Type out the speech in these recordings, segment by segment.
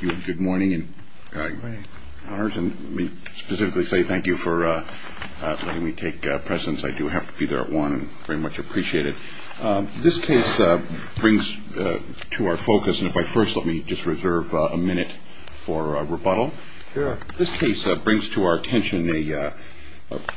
Good morning. Let me specifically say thank you for letting me take presence. I do have to be there at 1 and very much appreciate it. This case brings to our focus, and if I first let me just reserve a minute for rebuttal, this case brings to our attention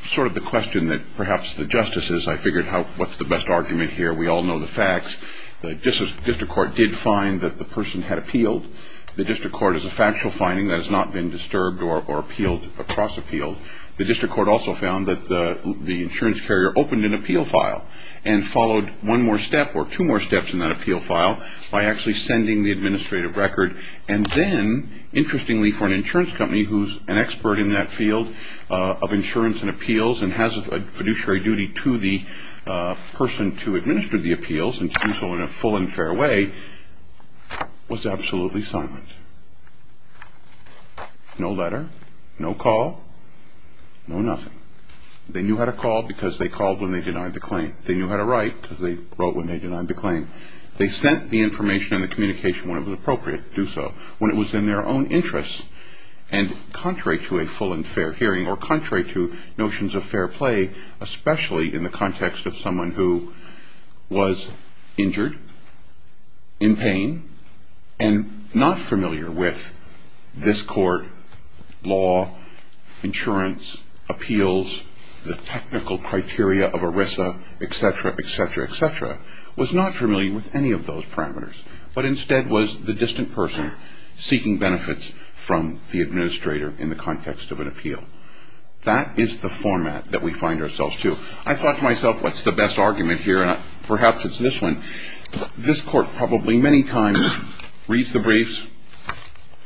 sort of the question that perhaps the justices, I figured what's the best argument here, we all know the facts, the district court did find that the person had appealed. The district court is a factual finding that has not been disturbed or appealed, or cross-appealed. The district court also found that the insurance carrier opened an appeal file and followed one more step or two more steps in that appeal file by actually sending the administrative record and then interestingly for an insurance company who's an expert in that field of insurance and appeals and has a fiduciary duty to the person to administer the appeals and to do so in a full and fair way, was absolutely silent. No letter, no call, no nothing. They knew how to call because they called when they denied the claim. They knew how to write because they wrote when they denied the claim. They sent the information and the communication when it was appropriate to do so. When it was in their own interest and contrary to a full and fair hearing or contrary to notions of fair play, especially in the context of someone who was injured, in pain, and not familiar with this court, law, insurance, appeals, the technical criteria of ERISA, etc., etc., etc., was not familiar with any of those parameters, but instead was the distant person seeking benefits from the administrator in the context of an appeal. That is the format that we find ourselves to. I thought to myself, what's the best argument here? Perhaps it's this one. This court probably many times reads the briefs,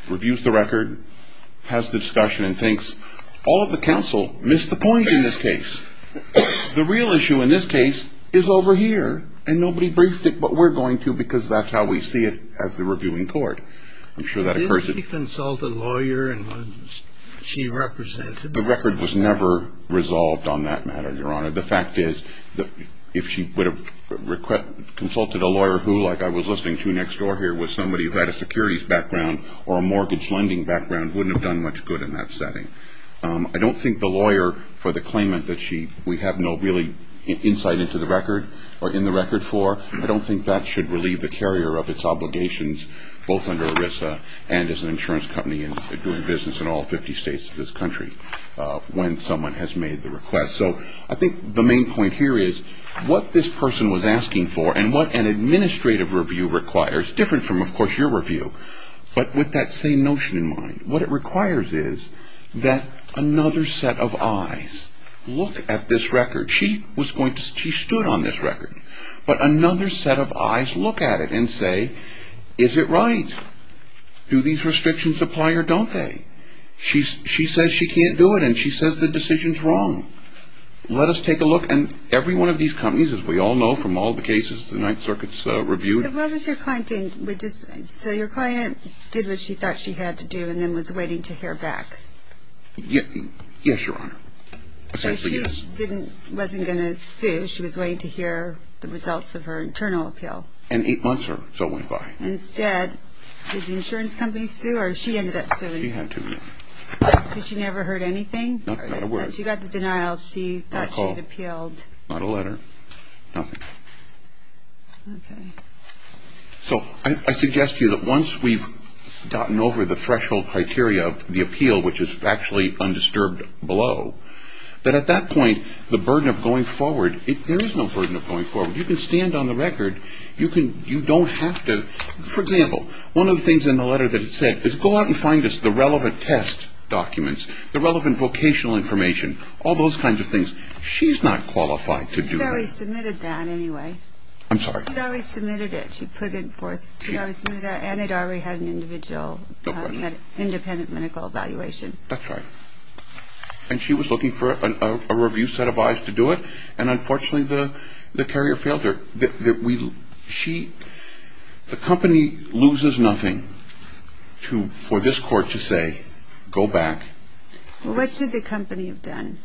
reviews the record, has the discussion, and thinks, all of the counsel missed the point in this case. The real issue in this case is over here, and nobody briefed it, but we're going to because that's how we see it as the reviewing court. I'm sure that occurs. Did she consult a lawyer and one she represented? The record was never resolved on that matter, Your Honor. The fact is that if she would have consulted a lawyer who, like I was listening to next door here, was somebody who had a securities background or a mortgage lending background, wouldn't have done much good in that setting. I don't think the lawyer for the claimant that we have no really insight into the record or in the record for, I don't think that should relieve the carrier of its obligations both under ERISA and as an insurance company and doing business in all 50 states of this country when someone has made the request. So I think the main point here is what this person was asking for and what an administrative review requires, different from, of course, your review, but with that same notion in mind. What it requires is that another set of eyes look at this record. She stood on this record, but another set of eyes look at it and say, is it right? Do these restrictions apply or don't they? She says she can't do it, and she says the decision's wrong. Let us take a look, and every one of these companies, as we all know from all the cases the Ninth Circuit's reviewed. So your client did what she thought she had to do and then was waiting to hear back. Yes, Your Honor. So she wasn't going to sue. She was waiting to hear the results of her internal appeal. And eight months or so went by. Instead, did the insurance company sue or she ended up suing? She had to, yeah. Because she never heard anything? Nothing. She got the denial. She thought she had appealed. Not a call, not a letter, nothing. Okay. So I suggest to you that once we've gotten over the threshold criteria of the appeal, which is actually undisturbed below, that at that point the burden of going forward, there is no burden of going forward. You can stand on the record. You don't have to. For example, one of the things in the letter that it said is go out and find us the relevant test documents, the relevant vocational information, all those kinds of things. She's not qualified to do that. She already submitted that anyway. I'm sorry? She already submitted it. She put it forth. She already submitted that and it already had an individual independent medical evaluation. That's right. And she was looking for a review set of eyes to do it, and unfortunately the carrier failed her. The company loses nothing for this court to say, go back. What should the company have done?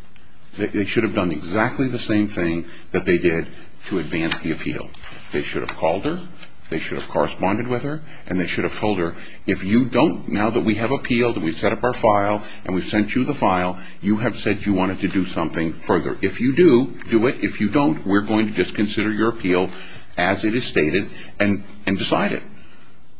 They should have done exactly the same thing that they did to advance the appeal. They should have called her. They should have corresponded with her, and they should have told her, if you don't, now that we have appealed and we've set up our file and we've sent you the file, you have said you wanted to do something further. If you do, do it. If you don't, we're going to disconsider your appeal as it is stated and decide it,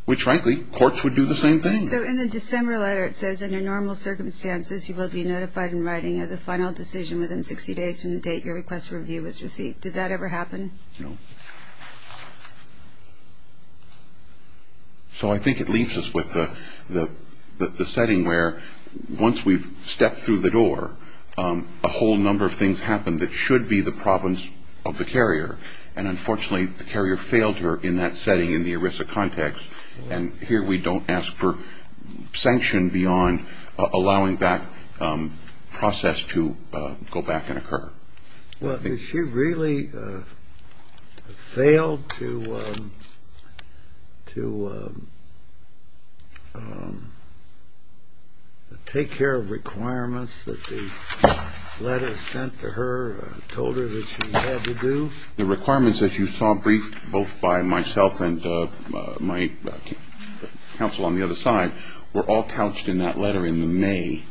which, frankly, courts would do the same thing. So in the December letter it says, under normal circumstances, you will be notified in writing of the final decision within 60 days from the date your request for review was received. Did that ever happen? No. So I think it leaves us with the setting where once we've stepped through the door, a whole number of things happen that should be the province of the carrier, and unfortunately the carrier failed her in that setting in the ERISA context, and here we don't ask for sanction beyond allowing that process to go back and occur. Well, did she really fail to take care of requirements that the letter sent to her told her that she had to do? The requirements, as you saw briefed both by myself and my counsel on the other side, were all couched in that letter in the May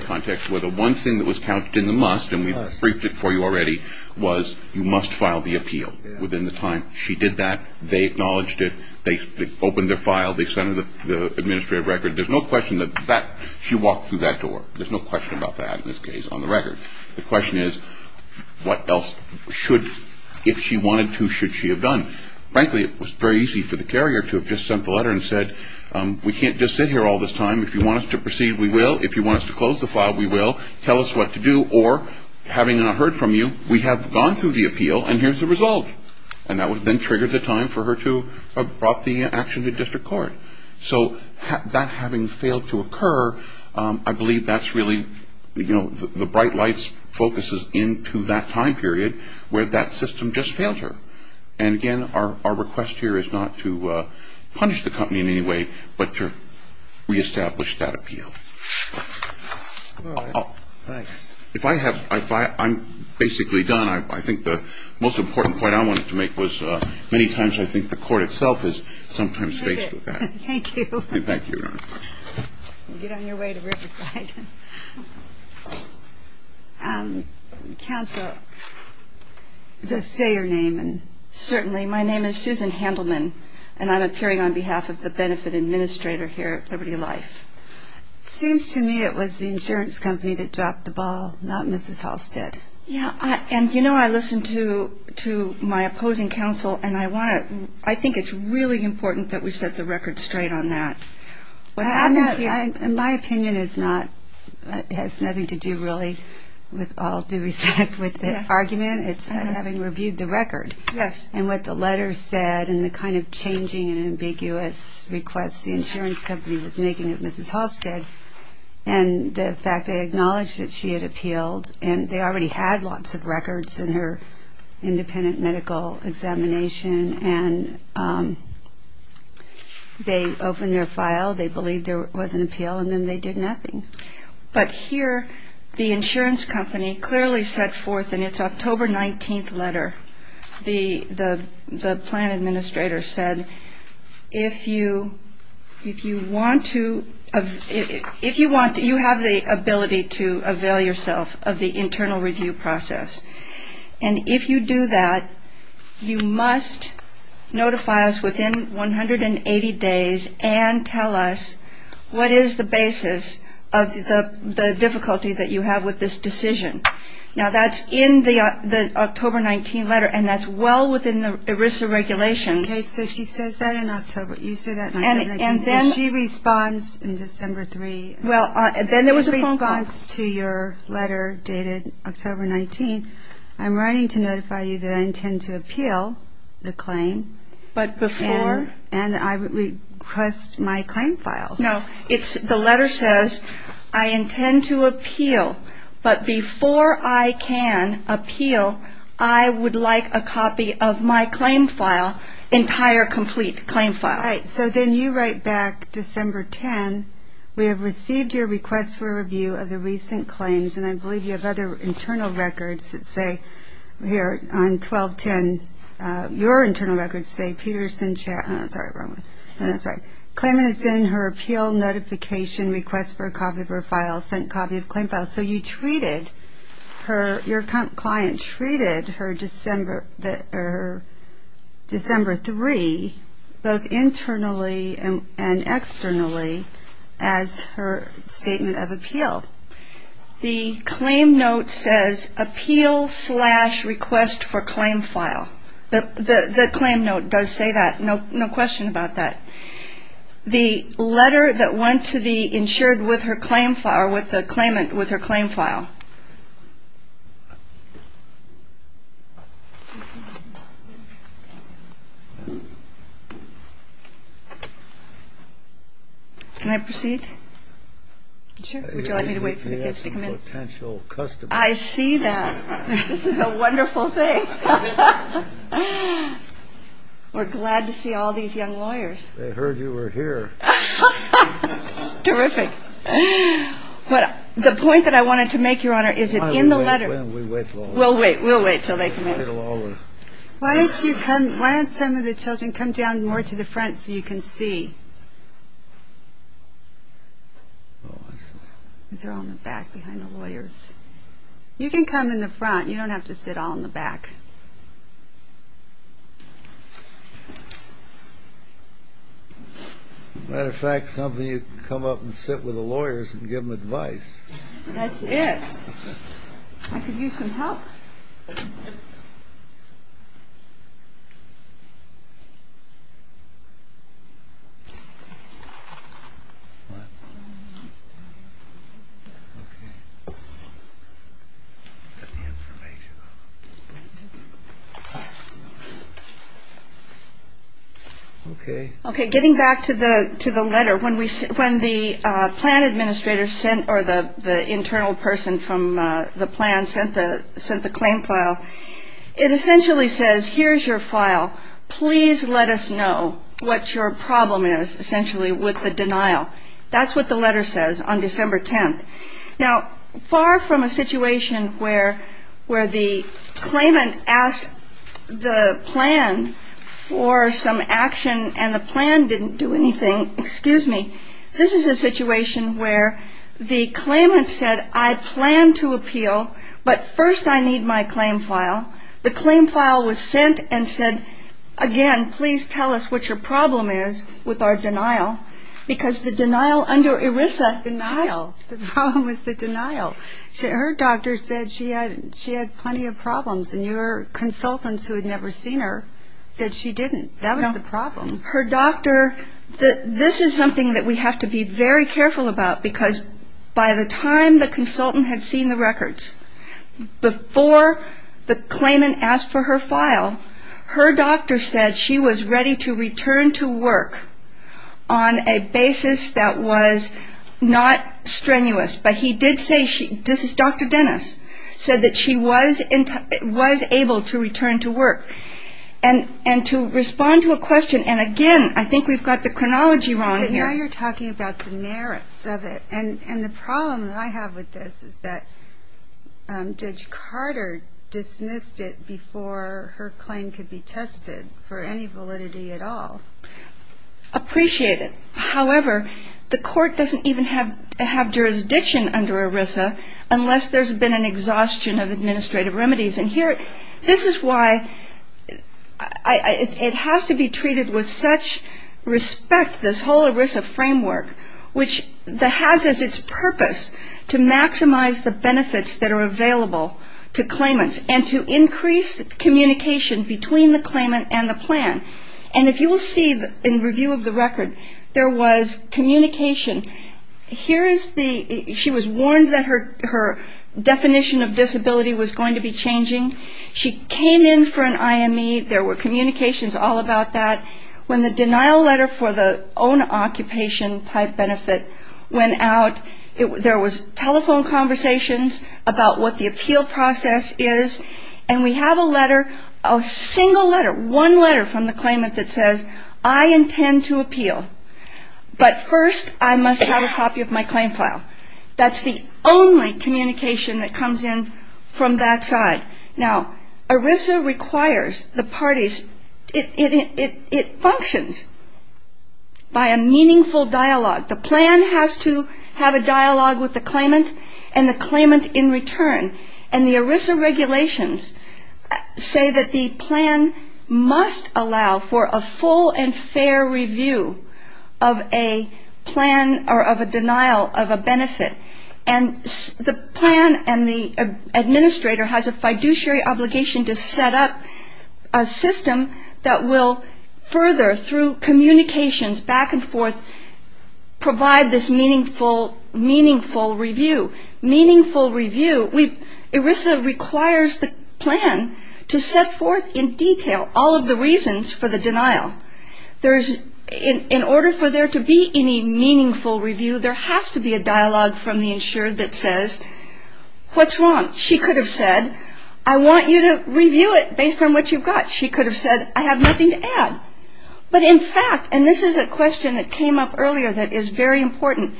context, where the one thing that was couched in the must, and we briefed it for you already, was you must file the appeal within the time she did that. They acknowledged it. They opened their file. They sent her the administrative record. There's no question that she walked through that door. There's no question about that in this case on the record. The question is what else should, if she wanted to, should she have done? Frankly, it was very easy for the carrier to have just sent the letter and said, we can't just sit here all this time. If you want us to proceed, we will. If you want us to close the file, we will. Tell us what to do. Or, having not heard from you, we have gone through the appeal, and here's the result. And that then triggered the time for her to have brought the action to district court. So that having failed to occur, I believe that's really, you know, the bright light focuses into that time period where that system just failed her. And, again, our request here is not to punish the company in any way, but to reestablish that appeal. If I have, I'm basically done. I think the most important point I wanted to make was many times I think the court itself is sometimes faced with that. Thank you. Thank you, Your Honor. Get on your way to Riverside. Counsel, does that say your name? Certainly. My name is Susan Handelman, and I'm appearing on behalf of the benefit administrator here at Liberty Life. It seems to me it was the insurance company that dropped the ball, not Mrs. Halstead. Yeah, and, you know, I listened to my opposing counsel, and I think it's really important that we set the record straight on that. My opinion has nothing to do really with all due respect with the argument. It's having reviewed the record and what the letter said and the kind of changing and ambiguous request the insurance company was making of Mrs. Halstead and the fact they acknowledged that she had appealed and they already had lots of records in her independent medical examination, and they opened their file, they believed there was an appeal, and then they did nothing. But here the insurance company clearly set forth in its October 19th letter, the plan administrator said, if you want to, you have the ability to avail yourself of the internal review process, and if you do that, you must notify us within 180 days and tell us what is the basis of the difficulty that you have with this decision. Now, that's in the October 19th letter, and that's well within the ERISA regulations. Okay, so she says that in October, you say that in October 19th, and then she responds in December 3. Well, then there was a phone call. In response to your letter dated October 19, I'm writing to notify you that I intend to appeal the claim. But before? And I request my claim file. No, the letter says, I intend to appeal, but before I can appeal, I would like a copy of my claim file, entire complete claim file. All right. So then you write back December 10, we have received your request for review of the recent claims, and I believe you have other internal records that say here on 1210, your internal records say Peterson Chapman. Sorry, wrong one. That's right. Claimant is in her appeal notification request for a copy of her file, sent copy of claim file. So you treated her, your client treated her December 3, both internally and externally, as her statement of appeal. The claim note says, appeal slash request for claim file. The claim note does say that. No question about that. The letter that went to the insured with her claim file, or with the claimant with her claim file. Can I proceed? Sure. Would you like me to wait for the kids to come in? I see that. This is a wonderful thing. We're glad to see all these young lawyers. They heard you were here. It's terrific. The point that I wanted to make, Your Honor, is that in the letter. We'll wait. We'll wait until they come in. Why don't some of the children come down more to the front so you can see? These are all in the back behind the lawyers. You can come in the front. You don't have to sit all in the back. As a matter of fact, some of you can come up and sit with the lawyers and give them advice. That's it. I could use some help. All right. Okay. Getting back to the letter, when the plan administrator sent or the internal person from the plan sent the claim file, it essentially says, here's your file. Please let us know what your problem is, essentially, with the denial. That's what the letter says on December 10th. Now, far from a situation where the claimant asked the plan for some action and the plan didn't do anything, excuse me, this is a situation where the claimant said, I plan to appeal, but first I need my claim file. The claim file was sent and said, again, please tell us what your problem is with our denial. Because the denial under ERISA. Denial. The problem was the denial. Her doctor said she had plenty of problems, and your consultants who had never seen her said she didn't. That was the problem. Her doctor, this is something that we have to be very careful about, because by the time the consultant had seen the records, before the claimant asked for her file, her doctor said she was ready to return to work on a basis that was not strenuous. But he did say, this is Dr. Dennis, said that she was able to return to work. And to respond to a question, and again, I think we've got the chronology wrong here. But now you're talking about the merits of it. And the problem that I have with this is that Judge Carter dismissed it before her claim could be tested for any validity at all. Appreciate it. However, the court doesn't even have jurisdiction under ERISA unless there's been an exhaustion of administrative remedies. And here, this is why it has to be treated with such respect, this whole ERISA framework, which has as its purpose to maximize the benefits that are available to claimants and to increase communication between the claimant and the plan. And if you will see in review of the record, there was communication. She was warned that her definition of disability was going to be changing. She came in for an IME. There were communications all about that. When the denial letter for the own occupation type benefit went out, there was telephone conversations about what the appeal process is. And we have a letter, a single letter, one letter from the claimant that says, I intend to appeal. But first, I must have a copy of my claim file. That's the only communication that comes in from that side. Now, ERISA requires the parties, it functions by a meaningful dialogue. The plan has to have a dialogue with the claimant and the claimant in return. And the ERISA regulations say that the plan must allow for a full and fair review of a plan or of a denial of a benefit. And the plan and the administrator has a fiduciary obligation to set up a system that will further, through communications back and forth, provide this meaningful review. Meaningful review, ERISA requires the plan to set forth in detail all of the reasons for the denial. In order for there to be any meaningful review, there has to be a dialogue from the insured that says, what's wrong? She could have said, I want you to review it based on what you've got. She could have said, I have nothing to add. But in fact, and this is a question that came up earlier that is very important,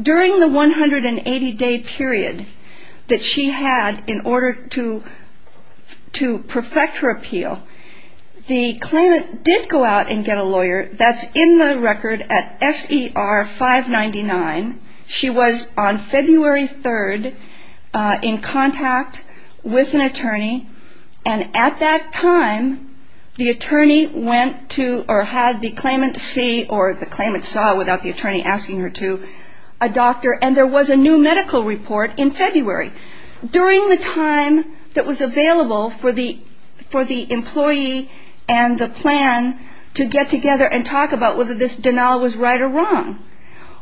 during the 180-day period that she had in order to perfect her appeal, the claimant did go out and get a lawyer. That's in the record at S.E.R. 599. She was on February 3rd in contact with an attorney. And at that time, the attorney went to or had the claimant see or the claimant saw without the attorney asking her to, a doctor. And there was a new medical report in February. During the time that was available for the employee and the plan to get together and talk about whether this denial was right or wrong.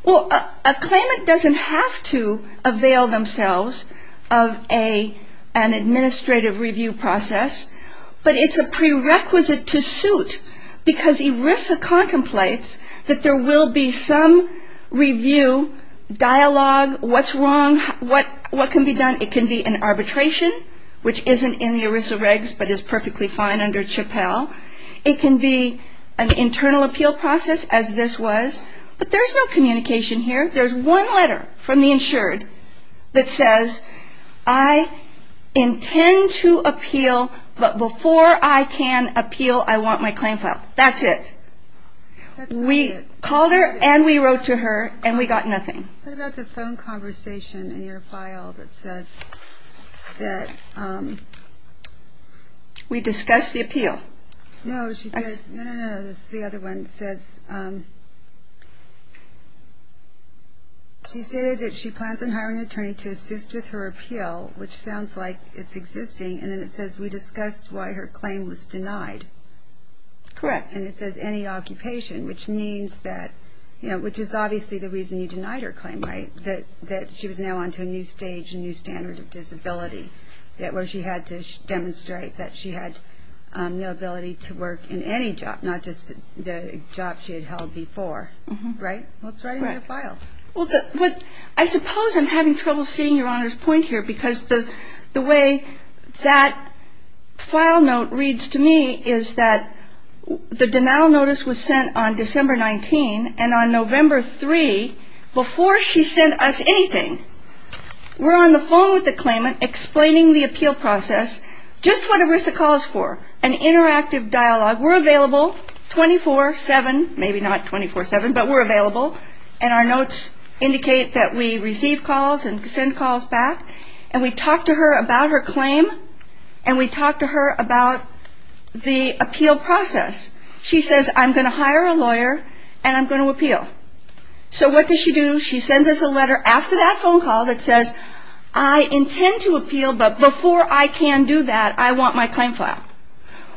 Well, a claimant doesn't have to avail themselves of an administrative review process. But it's a prerequisite to suit because ERISA contemplates that there will be some review, dialogue, what's wrong, what can be done. It can be an arbitration, which isn't in the ERISA regs but is perfectly fine under CHPL. It can be an internal appeal process as this was. But there's no communication here. There's one letter from the insured that says, I intend to appeal, but before I can appeal, I want my claim file. That's it. We called her and we wrote to her and we got nothing. What about the phone conversation in your file that says that... We discussed the appeal. No, she says, no, no, no, this is the other one. It says she stated that she plans on hiring an attorney to assist with her appeal, which sounds like it's existing. And then it says we discussed why her claim was denied. Correct. And it says any occupation, which means that, you know, which is obviously the reason you denied her claim, right, that she was now on to a new stage, a new standard of disability, where she had to demonstrate that she had the ability to work in any job, not just the job she had held before. Right? What's right in your file? Well, I suppose I'm having trouble seeing Your Honor's point here because the way that file note reads to me is that the denial notice was sent on December 19, and on November 3, before she sent us anything, we're on the phone with the claimant explaining the appeal process, just what ERISA calls for, an interactive dialogue. We're available 24-7. Maybe not 24-7, but we're available, and our notes indicate that we receive calls and send calls back, and we talk to her about her claim, and we talk to her about the appeal process. She says, I'm going to hire a lawyer, and I'm going to appeal. So what does she do? She sends us a letter after that phone call that says, I intend to appeal, but before I can do that, I want my claim file.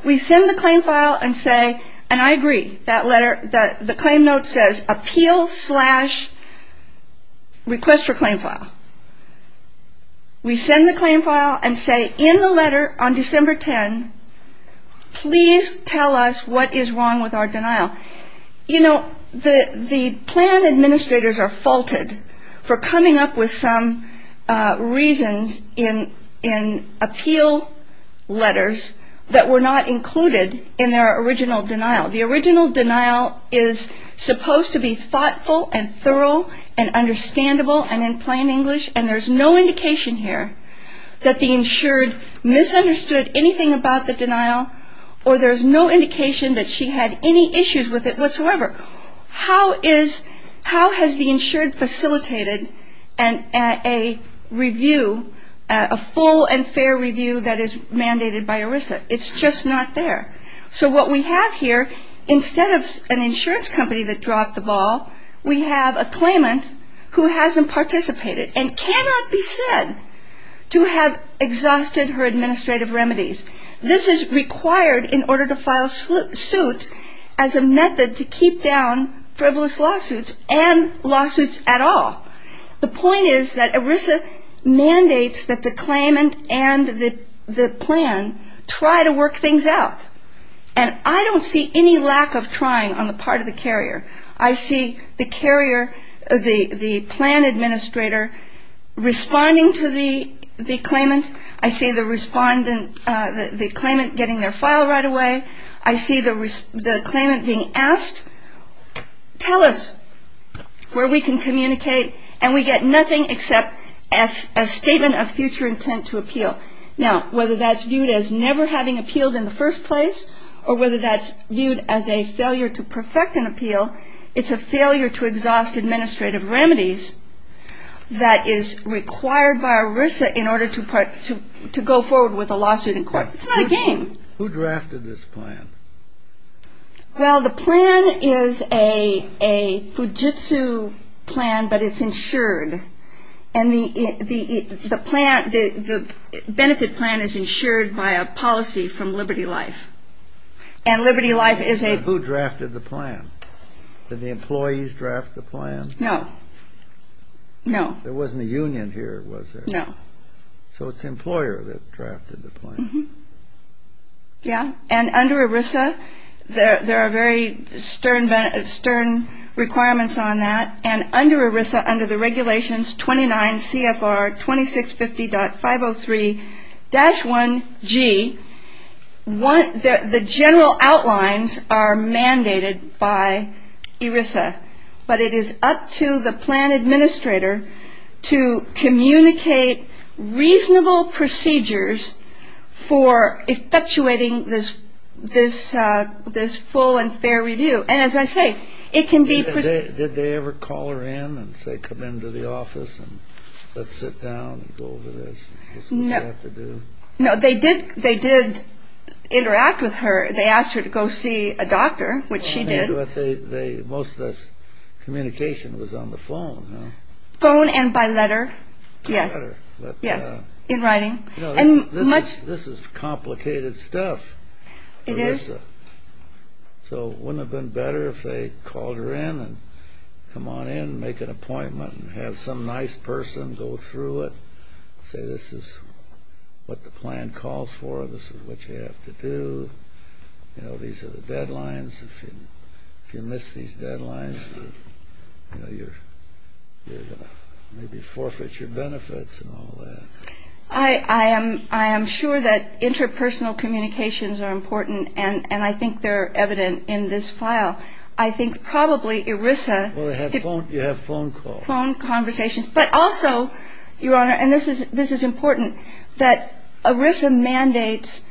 We send the claim file and say, and I agree, the claim note says, appeal slash request for claim file. We send the claim file and say, in the letter on December 10, please tell us what is wrong with our denial. You know, the plan administrators are faulted for coming up with some reasons in appeal letters that were not included in their original denial. The original denial is supposed to be thoughtful and thorough and understandable and in plain English, and there's no indication here that the insured misunderstood anything about the denial, or there's no indication that she had any issues with it whatsoever. How has the insured facilitated a review, a full and fair review that is mandated by ERISA? It's just not there. So what we have here, instead of an insurance company that dropped the ball, we have a claimant who hasn't participated and cannot be said to have exhausted her administrative remedies. This is required in order to file suit as a method to keep down frivolous lawsuits and lawsuits at all. The point is that ERISA mandates that the claimant and the plan try to work things out, and I don't see any lack of trying on the part of the carrier. I see the carrier, the plan administrator responding to the claimant. I see the claimant getting their file right away. I see the claimant being asked, tell us where we can communicate, and we get nothing except a statement of future intent to appeal. Now, whether that's viewed as never having appealed in the first place or whether that's viewed as a failure to perfect an appeal, it's a failure to exhaust administrative remedies that is required by ERISA in order to go forward with a lawsuit in court. It's not a game. Who drafted this plan? Well, the plan is a Fujitsu plan, but it's insured, and the benefit plan is insured by a policy from Liberty Life, and Liberty Life is a... And who drafted the plan? Did the employees draft the plan? No, no. There wasn't a union here, was there? No. So it's the employer that drafted the plan. Yeah, and under ERISA, there are very stern requirements on that, and under ERISA, under the regulations 29 CFR 2650.503-1G, the general outlines are mandated by ERISA, but it is up to the plan administrator to communicate reasonable procedures for effectuating this full and fair review, and as I say, it can be... Did they ever call her in and say, come into the office and let's sit down and go over this? No. This is what you have to do? No, they did interact with her. They asked her to go see a doctor, which she did. But most of this communication was on the phone, huh? Phone and by letter, yes. By letter. Yes, in writing. No, this is complicated stuff. It is. So wouldn't it have been better if they called her in and come on in and make an appointment and have some nice person go through it, say this is what the plan calls for, this is what you have to do, these are the deadlines, if you miss these deadlines, you're going to maybe forfeit your benefits and all that. I am sure that interpersonal communications are important, and I think they're evident in this file. I think probably ERISA... Well, they have phone calls. Phone conversations. But also, Your Honor, and this is important, that ERISA mandates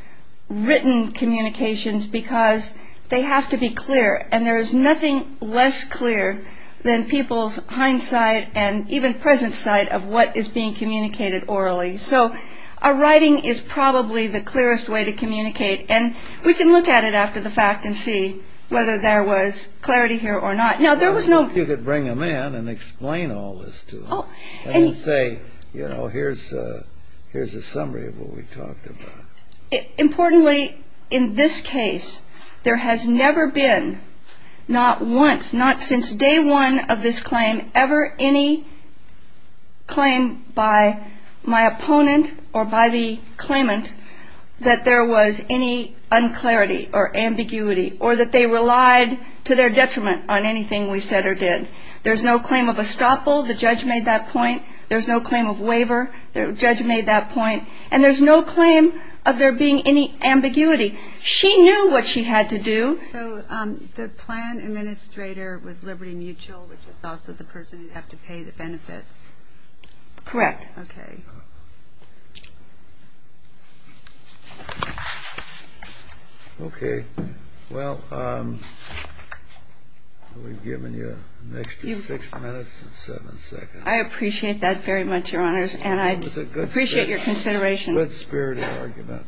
written communications because they have to be clear, and there is nothing less clear than people's hindsight and even present sight of what is being communicated orally. So a writing is probably the clearest way to communicate, and we can look at it after the fact and see whether there was clarity here or not. Now, there was no... You could bring them in and explain all this to them and say, you know, here's a summary of what we talked about. Importantly, in this case, there has never been, not once, not since day one of this claim, ever any claim by my opponent or by the claimant that there was any unclarity or ambiguity or that they relied to their detriment on anything we said or did. There's no claim of estoppel, the judge made that point. There's no claim of waiver, the judge made that point. And there's no claim of there being any ambiguity. She knew what she had to do. So the plan administrator was Liberty Mutual, which is also the person who'd have to pay the benefits? Correct. Okay. Okay. Well, we've given you an extra six minutes and seven seconds. I appreciate that very much, Your Honors. And I appreciate your consideration. It was a good-spirited argument.